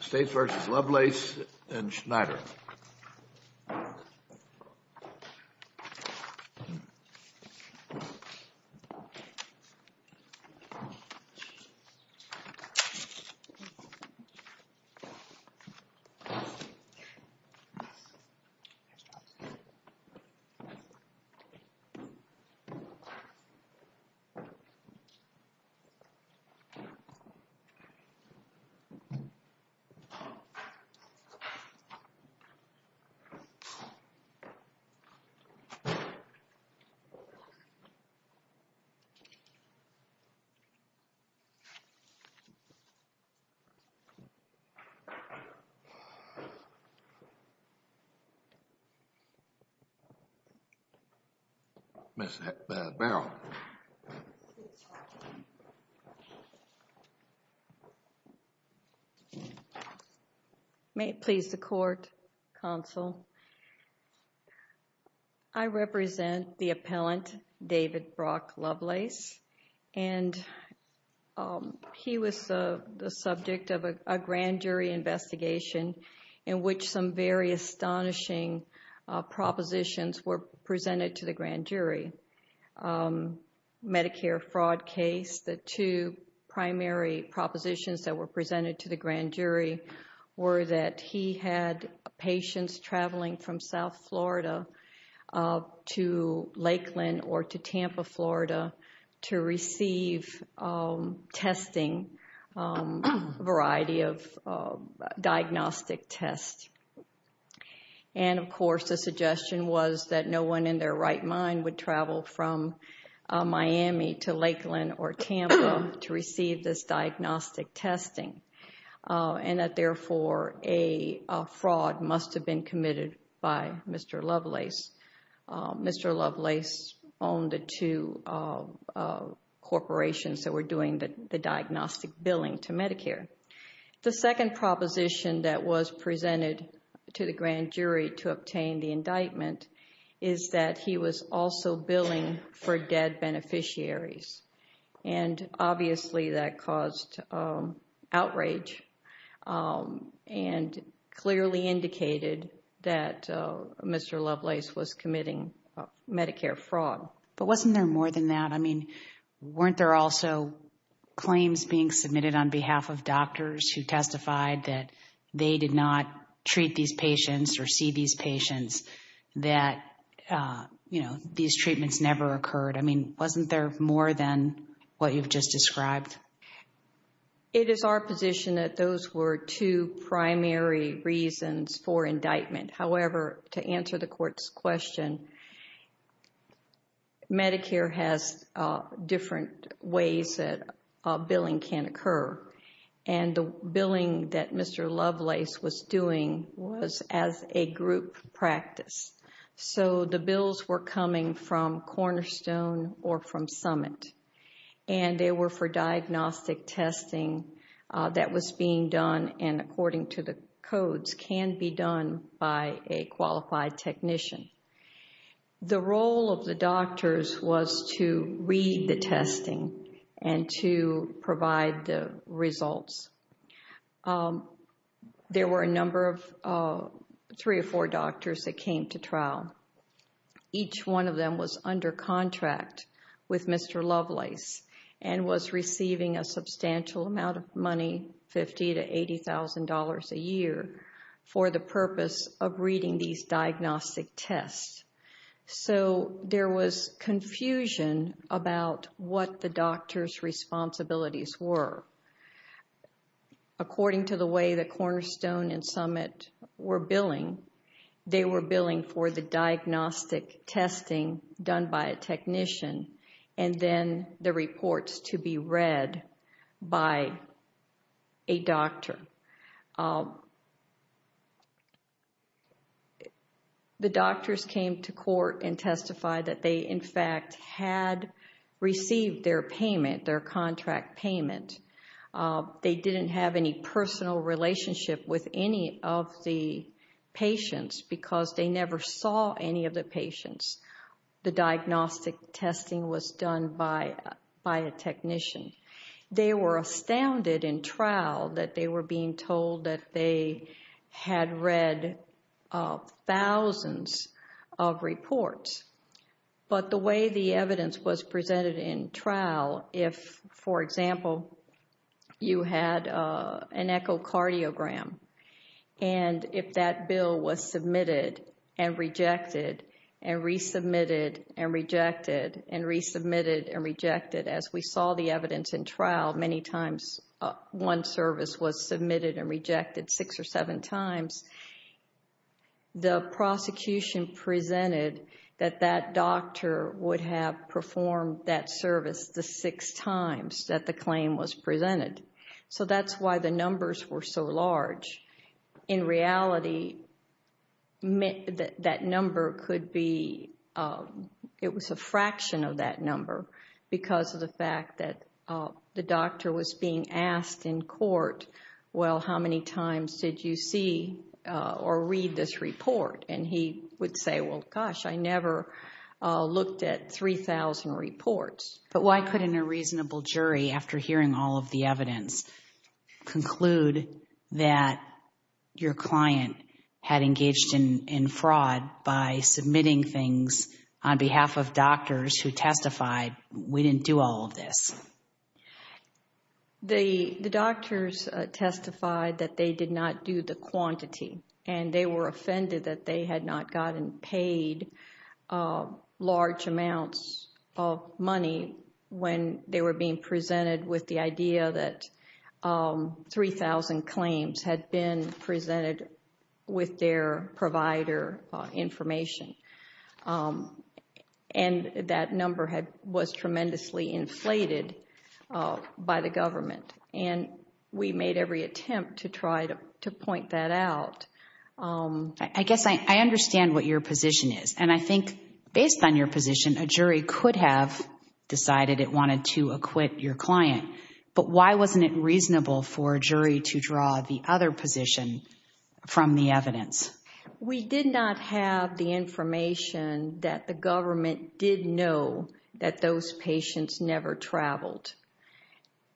States v. Lovelace and Schneider. States v. Lovelace, United States v. Schneider, United States v. Lovelace, United States v. May it please the Court, Counsel. I represent the appellant, David Brock Lovelace, and he was the subject of a grand jury investigation in which some very astonishing propositions were presented to the grand jury. Medicare fraud case, the two primary propositions that were presented to the grand jury were that he had patients traveling from South Florida to Lakeland or to Tampa, Florida to receive testing, a variety of diagnostic tests. And of course the suggestion was that no one in their right mind would travel from Miami to Lakeland or Tampa to receive this diagnostic testing and that therefore a fraud must have been committed by Mr. Lovelace. Mr. Lovelace owned the two corporations that were doing the diagnostic billing to Medicare. The second proposition that was presented to the grand jury to obtain the indictment is that he was also billing for dead beneficiaries. And obviously that caused outrage and clearly indicated that Mr. Lovelace was committing Medicare fraud. But wasn't there more than that? I mean, weren't there also claims being submitted on behalf of doctors who testified that they did not treat these patients or see these patients that, you know, these treatments never occurred? I mean, wasn't there more than what you've just described? It is our position that those were two primary reasons for indictment. However, to answer the court's question, Medicare has different ways that billing can occur. And the billing that Mr. Lovelace was doing was as a group practice. So the bills were coming from Cornerstone or from Summit. And they were for diagnostic testing that was being done and, according to the codes, can be done by a qualified technician. The role of the doctors was to read the testing and to provide the results. There were a number of three or four doctors that came to trial. Each one of them was under contract with Mr. Lovelace and was receiving a substantial amount of money, $50,000 to $80,000 a year, for the purpose of reading these diagnostic tests. So there was confusion about what the doctors' responsibilities were. According to the way that Cornerstone and Summit were billing, they were billing for the diagnostic testing done by a technician and then the reports to be read by a doctor. The doctors came to court and testified that they, in fact, had received their payment, their contract payment. They didn't have any personal relationship with any of the patients because they never saw any of the patients. The diagnostic testing was done by a technician. They were astounded in trial that they were being told that they had read thousands of reports. But the way the evidence was presented in trial, if, for example, you had an echocardiogram, and if that bill was submitted and rejected and resubmitted and rejected and resubmitted and rejected, as we saw the evidence in trial, many times one service was submitted and rejected, six or seven times, the prosecution presented that that doctor would have performed that service the six times that the claim was presented. So that's why the numbers were so large. In reality, that number could be, it was a fraction of that number because of the fact that the doctor was being asked in court, well, how many times did you see or read this report? And he would say, well, gosh, I never looked at 3,000 reports. But why couldn't a reasonable jury, after hearing all of the evidence, conclude that your client had engaged in fraud by submitting things on behalf of doctors who testified, we didn't do all of this? The doctors testified that they did not do the quantity, and they were offended that they had not gotten paid large amounts of money when they were being presented with the idea that 3,000 claims had been presented with their provider information. And that number was tremendously inflated by the government. And we made every attempt to try to point that out. I guess I understand what your position is, and I think based on your position, a jury could have decided it wanted to acquit your client. But why wasn't it reasonable for a jury to draw the other position from the evidence? We did not have the information that the government did know that those patients never traveled.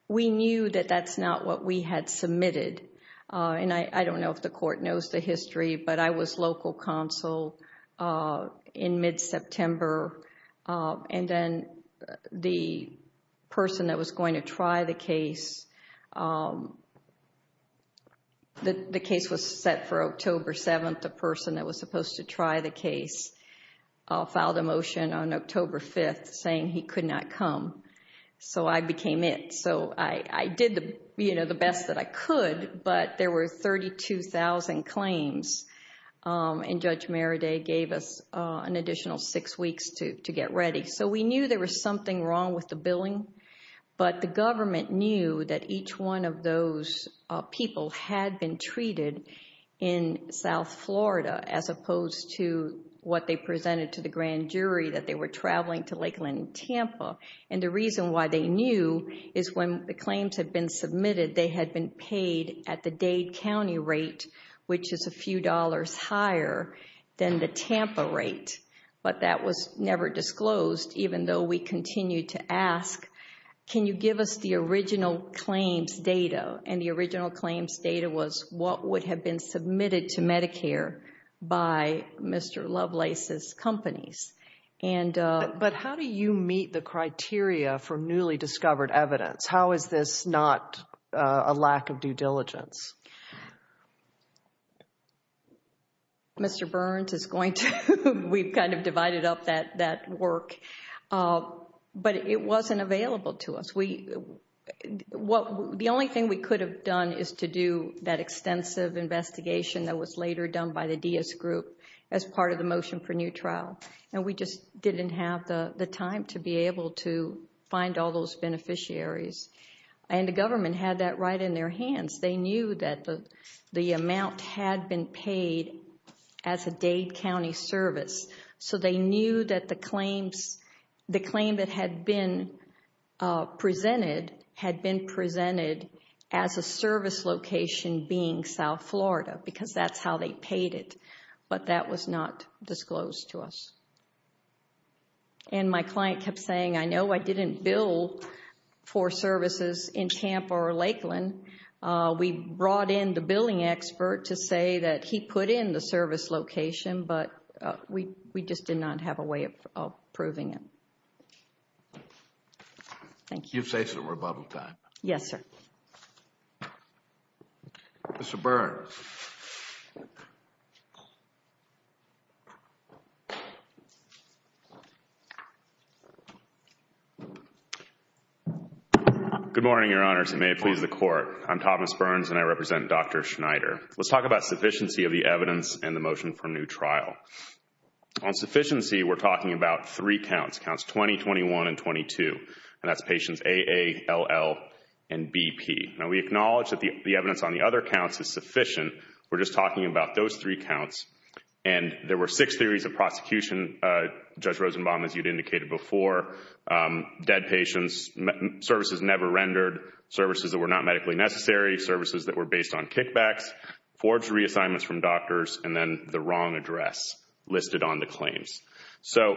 We knew that that's not what we had submitted. And I don't know if the court knows the history, but I was local counsel in mid-September, and then the person that was going to try the case, the case was set for October 7th. And the person that was supposed to try the case filed a motion on October 5th saying he could not come. So I became it. So I did the best that I could, but there were 32,000 claims, and Judge Maraday gave us an additional six weeks to get ready. So we knew there was something wrong with the billing, but the government knew that each one of those people had been treated in South Florida, as opposed to what they presented to the grand jury that they were traveling to Lakeland and Tampa. And the reason why they knew is when the claims had been submitted, they had been paid at the Dade County rate, which is a few dollars higher than the Tampa rate. But that was never disclosed, even though we continued to ask, can you give us the original claims data? And the original claims data was what would have been submitted to Medicare by Mr. Lovelace's companies. But how do you meet the criteria for newly discovered evidence? How is this not a lack of due diligence? Mr. Burns is going to, we've kind of divided up that work, but it wasn't available to us. The only thing we could have done is to do that extensive investigation that was later done by the Diaz group as part of the motion for new trial. And we just didn't have the time to be able to find all those beneficiaries. And the government had that right in their hands. They knew that the amount had been paid as a Dade County service, so they knew that the claim that had been presented as a service location being South Florida, because that's how they paid it. But that was not disclosed to us. And my client kept saying, I know I didn't bill for services in Tampa or Lakeland. We brought in the billing expert to say that he put in the service location, but we just did not have a way of proving it. Thank you. You've saved some rebuttal time. Yes, sir. Mr. Burns. Good morning, Your Honors, and may it please the Court. I'm Thomas Burns, and I represent Dr. Schneider. Let's talk about sufficiency of the evidence and the motion for new trial. On sufficiency, we're talking about three counts, counts 20, 21, and 22, and that's patients AA, LL, and BP. Now, we acknowledge that the evidence on the other counts is sufficient. We're just talking about those three counts. And there were six theories of prosecution, Judge Rosenbaum, as you'd indicated before, dead patients, services never rendered, services that were not medically necessary, services that were based on kickbacks, forged reassignments from doctors, and then the wrong address listed on the claims. So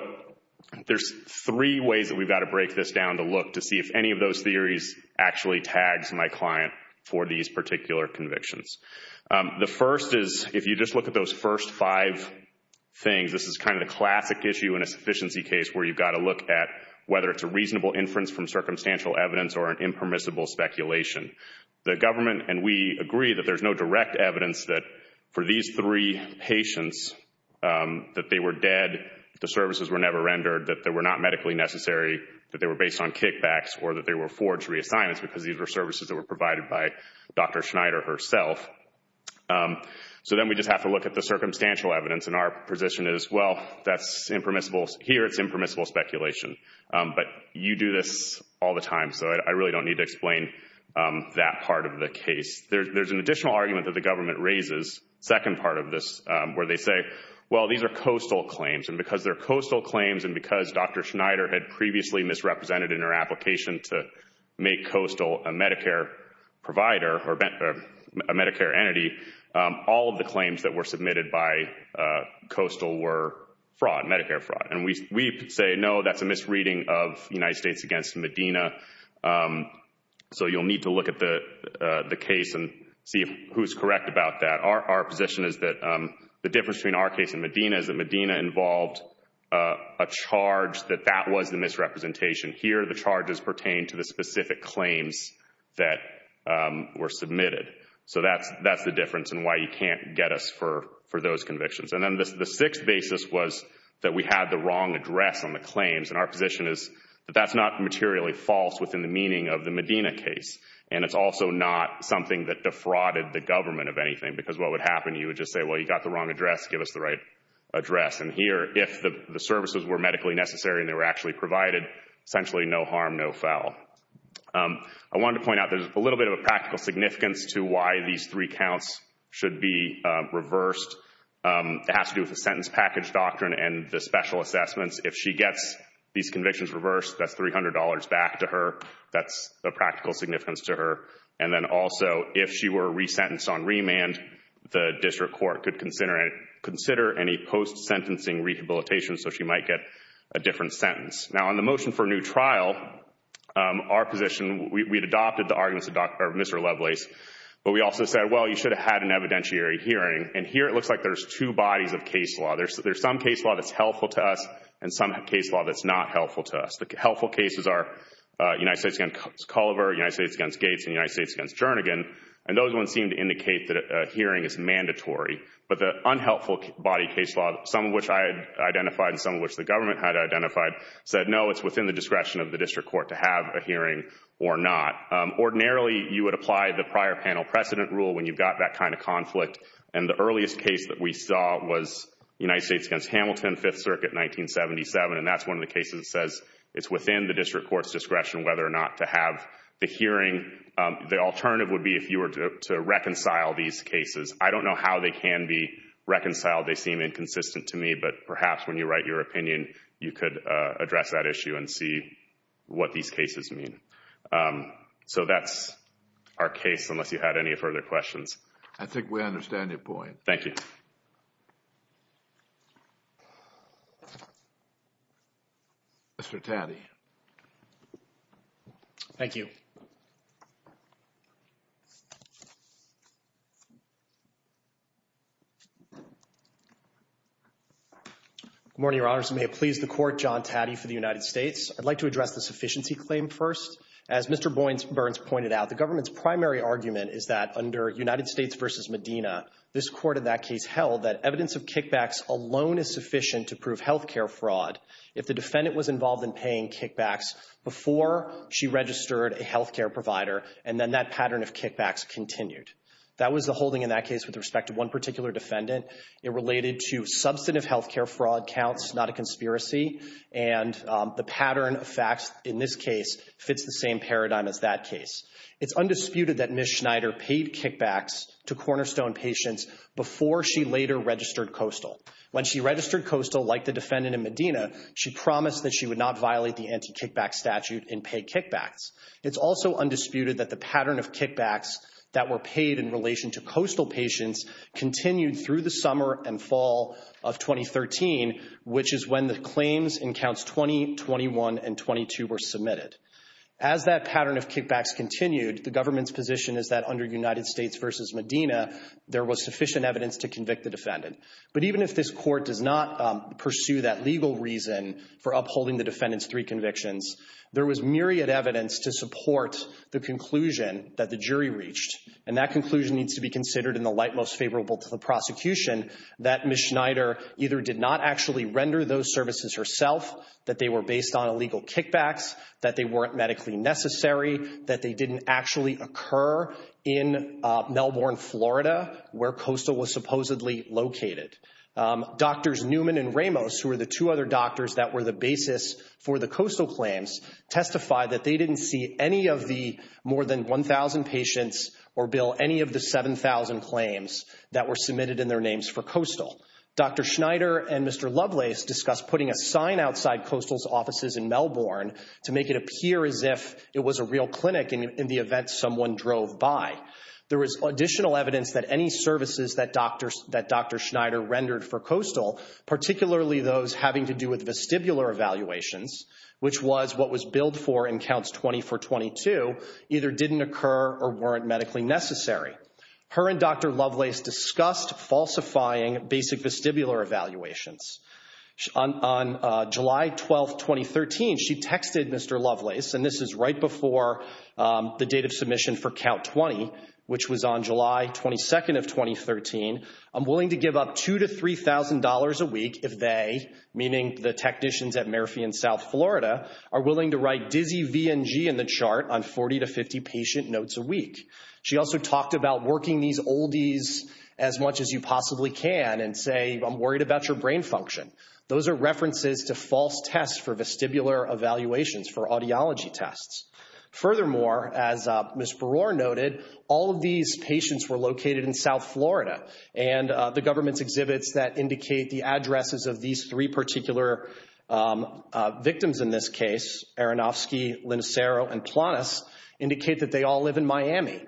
there's three ways that we've got to break this down to look to see if any of those theories actually tags my client for these particular convictions. The first is if you just look at those first five things, this is kind of the classic issue in a sufficiency case where you've got to look at whether it's a reasonable inference from circumstantial evidence or an impermissible speculation. The government and we agree that there's no direct evidence that for these three patients that they were dead, the services were never rendered, that they were not medically necessary, that they were based on kickbacks, or that they were forged reassignments because these were services that were provided by Dr. Schneider herself. So then we just have to look at the circumstantial evidence, and our position is, well, that's impermissible. Here it's impermissible speculation. But you do this all the time, so I really don't need to explain that part of the case. There's an additional argument that the government raises, second part of this, where they say, well, these are coastal claims, and because they're coastal claims and because Dr. Schneider had previously misrepresented in her application to make Coastal a Medicare provider or a Medicare entity, all of the claims that were submitted by Coastal were fraud, Medicare fraud. And we say, no, that's a misreading of United States against Medina, so you'll need to look at the case and see who's correct about that. Our position is that the difference between our case and Medina is that Medina involved a charge that that was the misrepresentation. Here the charges pertain to the specific claims that were submitted. So that's the difference and why you can't get us for those convictions. And then the sixth basis was that we had the wrong address on the claims, and our position is that that's not materially false within the meaning of the Medina case, and it's also not something that defrauded the government of anything because what would happen, you would just say, well, you got the wrong address, give us the right address. And here, if the services were medically necessary and they were actually provided, essentially no harm, no foul. I wanted to point out there's a little bit of a practical significance to why these three counts should be reversed. It has to do with the sentence package doctrine and the special assessments. If she gets these convictions reversed, that's $300 back to her. That's a practical significance to her. And then also, if she were resentenced on remand, the district court could consider any post-sentencing rehabilitation so she might get a different sentence. Now, on the motion for new trial, our position, we had adopted the arguments of Mr. Lovelace, but we also said, well, you should have had an evidentiary hearing, and here it looks like there's two bodies of case law. There's some case law that's helpful to us and some case law that's not helpful to us. The helpful cases are United States against Culliver, United States against Gates, and United States against Jernigan, and those ones seem to indicate that a hearing is mandatory. But the unhelpful body case law, some of which I had identified and some of which the government had identified, said no, it's within the discretion of the district court to have a hearing or not. Ordinarily, you would apply the prior panel precedent rule when you've got that kind of conflict, and the earliest case that we saw was United States against Hamilton, Fifth Circuit, 1977, and that's one of the cases that says it's within the district court's discretion whether or not to have the hearing. The alternative would be if you were to reconcile these cases. I don't know how they can be reconciled. They seem inconsistent to me, but perhaps when you write your opinion, you could address that issue and see what these cases mean. So that's our case, unless you had any further questions. I think we understand your point. Thank you. Mr. Tandy. Thank you. Good morning, Your Honors. May it please the Court, John Taddy for the United States. I'd like to address the sufficiency claim first. As Mr. Burns pointed out, the government's primary argument is that under United States versus Medina, this Court in that case held that evidence of kickbacks alone is sufficient to prove health care fraud if the defendant was involved in paying kickbacks before she registered a health care provider, and then that pattern of kickbacks continued. That was the holding in that case with respect to one particular defendant. It related to substantive health care fraud counts, not a conspiracy, and the pattern of facts in this case fits the same paradigm as that case. It's undisputed that Ms. Schneider paid kickbacks to Cornerstone patients before she later registered Coastal. When she registered Coastal, like the defendant in Medina, she promised that she would not violate the anti-kickback statute and pay kickbacks. It's also undisputed that the pattern of kickbacks that were paid in relation to Coastal patients continued through the summer and fall of 2013, which is when the claims in Counts 20, 21, and 22 were submitted. As that pattern of kickbacks continued, the government's position is that under United States versus Medina, there was sufficient evidence to convict the defendant. But even if this Court does not pursue that legal reason for upholding the defendant's three convictions, there was myriad evidence to support the conclusion that the jury reached, and that conclusion needs to be considered in the light most favorable to the prosecution, that Ms. Schneider either did not actually render those services herself, that they were based on illegal kickbacks, that they weren't medically necessary, that they didn't actually occur in Melbourne, Florida, where Coastal was supposedly located. Doctors Newman and Ramos, who were the two other doctors that were the basis for the Coastal claims, testified that they didn't see any of the more than 1,000 patients or, Bill, any of the 7,000 claims that were submitted in their names for Coastal. Dr. Schneider and Mr. Lovelace discussed putting a sign outside Coastal's offices in Melbourne to make it appear as if it was a real clinic in the event someone drove by. There was additional evidence that any services that Dr. Schneider rendered for Coastal, particularly those having to do with vestibular evaluations, which was what was billed for in Counts 20 for 22, either didn't occur or weren't medically necessary. Her and Dr. Lovelace discussed falsifying basic vestibular evaluations. On July 12, 2013, she texted Mr. Lovelace, and this is right before the date of submission for Count 20, which was on July 22nd of 2013, I'm willing to give up $2,000 to $3,000 a week if they, meaning the technicians at Murphy in South Florida, are willing to write dizzy VNG in the chart on 40 to 50 patient notes a week. She also talked about working these oldies as much as you possibly can and say, I'm worried about your brain function. Those are references to false tests for vestibular evaluations for audiology tests. Furthermore, as Ms. Brewer noted, all of these patients were located in South Florida, and the government's exhibits that indicate the addresses of these three particular victims in this case, Aronofsky, Linacero, and Planas, indicate that they all live in Miami.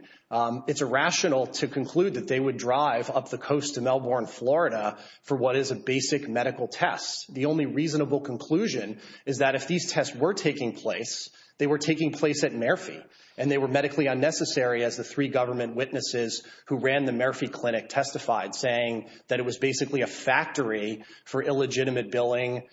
It's irrational to conclude that they would drive up the coast to Melbourne, Florida, for what is a basic medical test. The only reasonable conclusion is that if these tests were taking place, they were taking place at Murphy, and they were medically unnecessary as the three government witnesses who ran the Murphy clinic testified, saying that it was basically a factory for illegitimate billing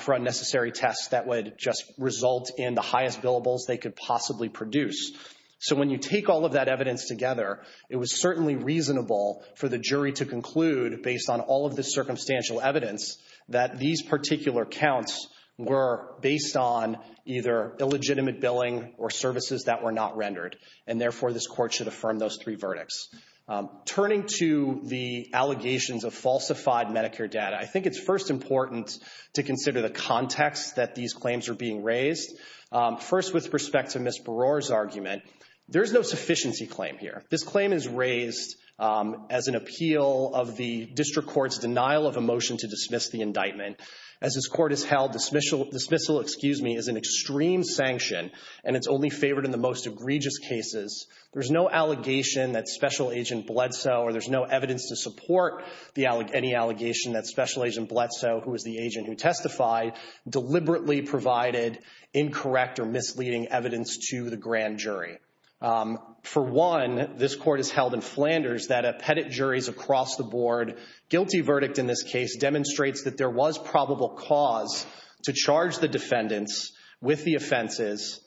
for unnecessary tests that would just result in the highest billables they could possibly produce. So when you take all of that evidence together, it was certainly reasonable for the jury to conclude, based on all of this circumstantial evidence, that these particular counts were based on either illegitimate billing or services that were not rendered, and therefore this court should affirm those three verdicts. Turning to the allegations of falsified Medicare data, I think it's first important to consider the context that these claims are being raised. First, with respect to Ms. Brewer's argument, there is no sufficiency claim here. This claim is raised as an appeal of the district court's denial of a motion to dismiss the indictment. As this court has held, dismissal is an extreme sanction, and it's only favored in the most egregious cases. There's no allegation that Special Agent Bledsoe, or there's no evidence to support any allegation that Special Agent Bledsoe, who is the agent who testified, deliberately provided incorrect or misleading evidence to the grand jury. For one, this court has held in Flanders that appendant juries across the board, guilty verdict in this case, demonstrates that there was probable cause to charge the defendants with the offenses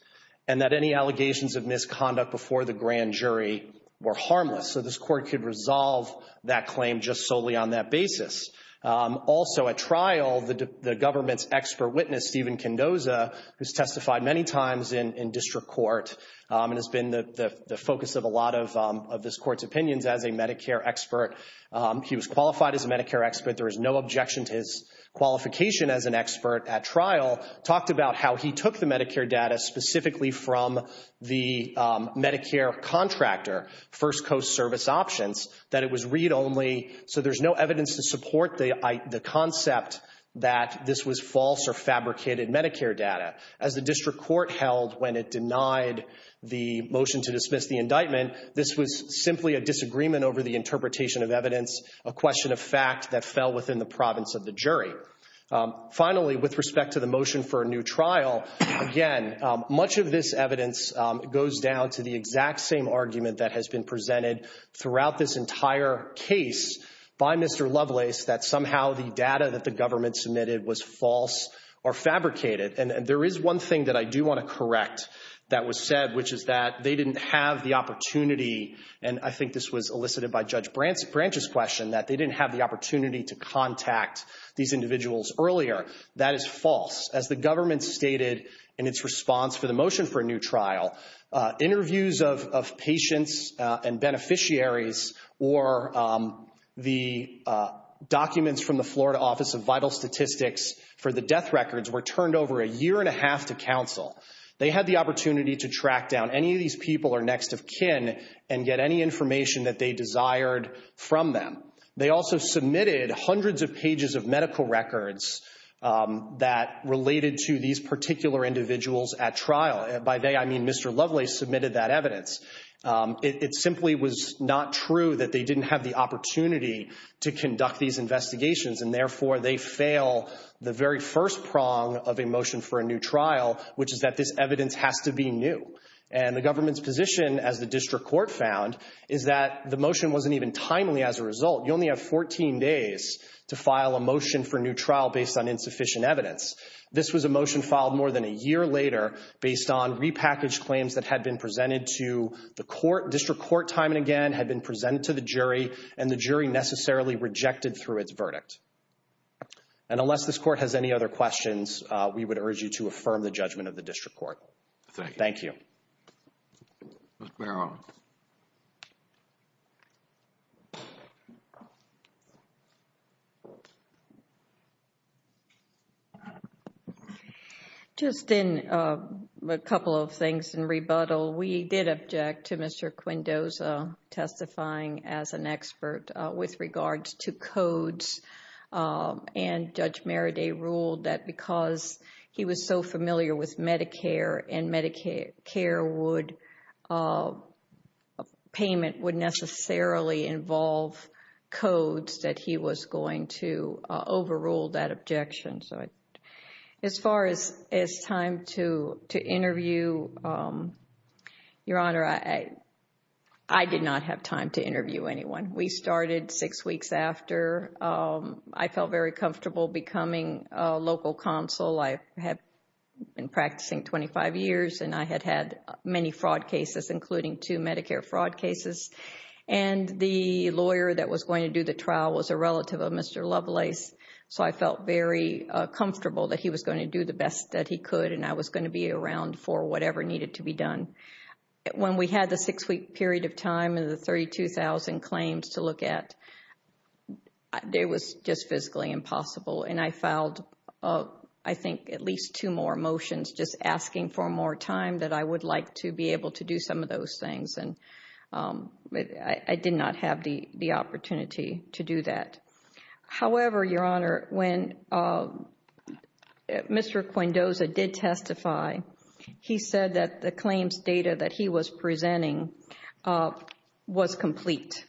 and that any allegations of misconduct before the grand jury were harmless. So this court could resolve that claim just solely on that basis. Also at trial, the government's expert witness, Stephen Kendoza, who's testified many times in district court, and has been the focus of a lot of this court's opinions as a Medicare expert. He was qualified as a Medicare expert. There was no objection to his qualification as an expert at trial. Talked about how he took the Medicare data specifically from the Medicare contractor, First Coast Service Options, that it was read only, so there's no evidence to support the concept that this was false or fabricated Medicare data. As the district court held when it denied the motion to dismiss the indictment, this was simply a disagreement over the interpretation of evidence, a question of fact that fell within the province of the jury. Finally, with respect to the motion for a new trial, again, much of this evidence goes down to the exact same argument that has been presented throughout this entire case by Mr. Lovelace, that somehow the data that the government submitted was false or fabricated. And there is one thing that I do want to correct that was said, which is that they didn't have the opportunity, and I think this was elicited by Judge Branch's question, that they didn't have the opportunity to contact these individuals earlier. That is false. As the government stated in its response for the motion for a new trial, interviews of patients and beneficiaries or the documents from the Florida Office of Vital Statistics for the death records were turned over a year and a half to counsel. They had the opportunity to track down any of these people or next of kin and get any information that they desired from them. They also submitted hundreds of pages of medical records that related to these particular individuals at trial. By they, I mean Mr. Lovelace submitted that evidence. It simply was not true that they didn't have the opportunity to conduct these investigations, and therefore they fail the very first prong of a motion for a new trial, which is that this evidence has to be new. And the government's position, as the district court found, is that the motion wasn't even timely as a result. You only have 14 days to file a motion for a new trial based on insufficient evidence. This was a motion filed more than a year later based on repackaged claims that had been presented to the court, district court time and again, had been presented to the jury, and the jury necessarily rejected through its verdict. And unless this court has any other questions, we would urge you to affirm the judgment of the district court. Thank you. Thank you. Mr. Barrow. Just a couple of things in rebuttal. We did object to Mr. Quindoza testifying as an expert with regards to codes, and Judge Maraday ruled that because he was so familiar with Medicare, and Medicare payment would necessarily involve codes, that he was going to overrule that objection. As far as time to interview, Your Honor, I did not have time to interview anyone. We started six weeks after. I felt very comfortable becoming a local counsel. I had been practicing 25 years, and I had had many fraud cases, including two Medicare fraud cases. And the lawyer that was going to do the trial was a relative of Mr. Lovelace, so I felt very comfortable that he was going to do the best that he could, and I was going to be around for whatever needed to be done. When we had the six-week period of time and the 32,000 claims to look at, it was just physically impossible. And I filed, I think, at least two more motions, just asking for more time that I would like to be able to do some of those things. And I did not have the opportunity to do that. However, Your Honor, when Mr. Quendoza did testify, he said that the claims data that he was presenting was complete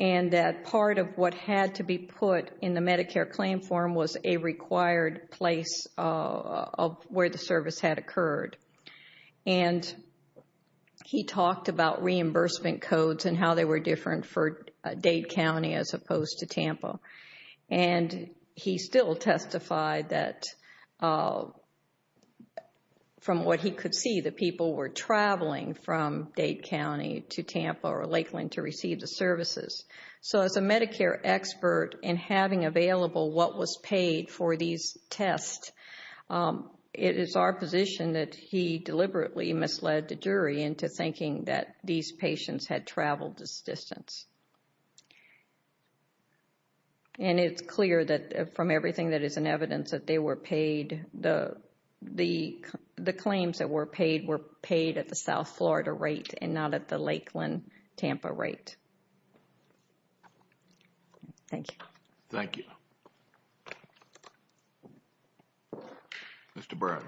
and that part of what had to be put in the Medicare claim form was a required place of where the service had occurred. And he talked about reimbursement codes and how they were different for Dade County as opposed to Tampa. And he still testified that from what he could see, the people were traveling from Dade County to Tampa or Lakeland to receive the services. So as a Medicare expert and having available what was paid for these tests, it is our position that he deliberately misled the jury into thinking that these patients had traveled this distance. And it's clear that from everything that is in evidence that they were paid, the claims that were paid were paid at the South Florida rate and not at the Lakeland-Tampa rate. Thank you. Thank you. Mr. Brown.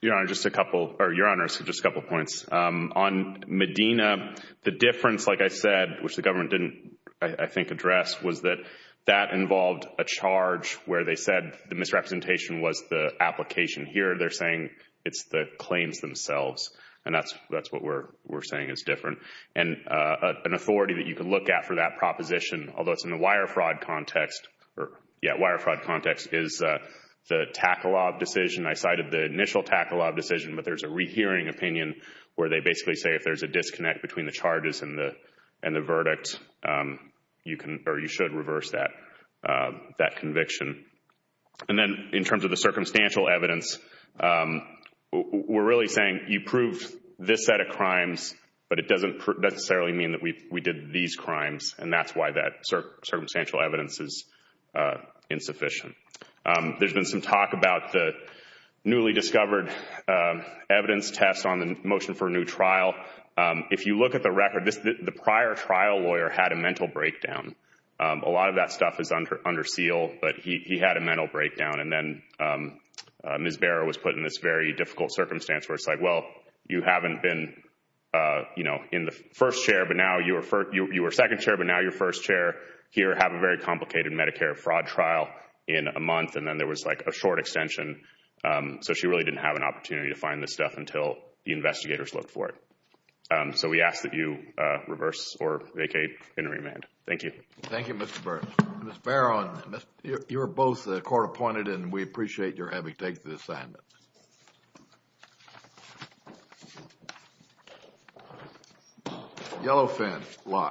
Your Honor, just a couple of points. On Medina, the difference, like I said, which the government didn't, I think, address, was that that involved a charge where they said the misrepresentation was the application. Here, they're saying it's the claims themselves. And that's what we're saying is different. And an authority that you can look at for that proposition, although it's in the wire fraud context, or, yeah, wire fraud context, is the Tackle Law decision. I cited the initial Tackle Law decision, but there's a rehearing opinion where they basically say if there's a disconnect between the charges and the verdict, you should reverse that conviction. And then in terms of the circumstantial evidence, we're really saying you proved this set of crimes, but it doesn't necessarily mean that we did these crimes. And that's why that circumstantial evidence is insufficient. There's been some talk about the newly discovered evidence test on the motion for a new trial. If you look at the record, the prior trial lawyer had a mental breakdown. A lot of that stuff is under seal, but he had a mental breakdown. And then Ms. Barrow was put in this very difficult circumstance where it's like, well, you haven't been in the first chair, but now you were second chair, but now you're first chair here. Have a very complicated Medicare fraud trial in a month. And then there was like a short extension. So she really didn't have an opportunity to find this stuff until the investigators looked for it. So we ask that you reverse or vacate in remand. Thank you. Thank you, Mr. Burns. Ms. Barrow, you're both court appointed, and we appreciate your having to take the assignment. Yellow fin, locked.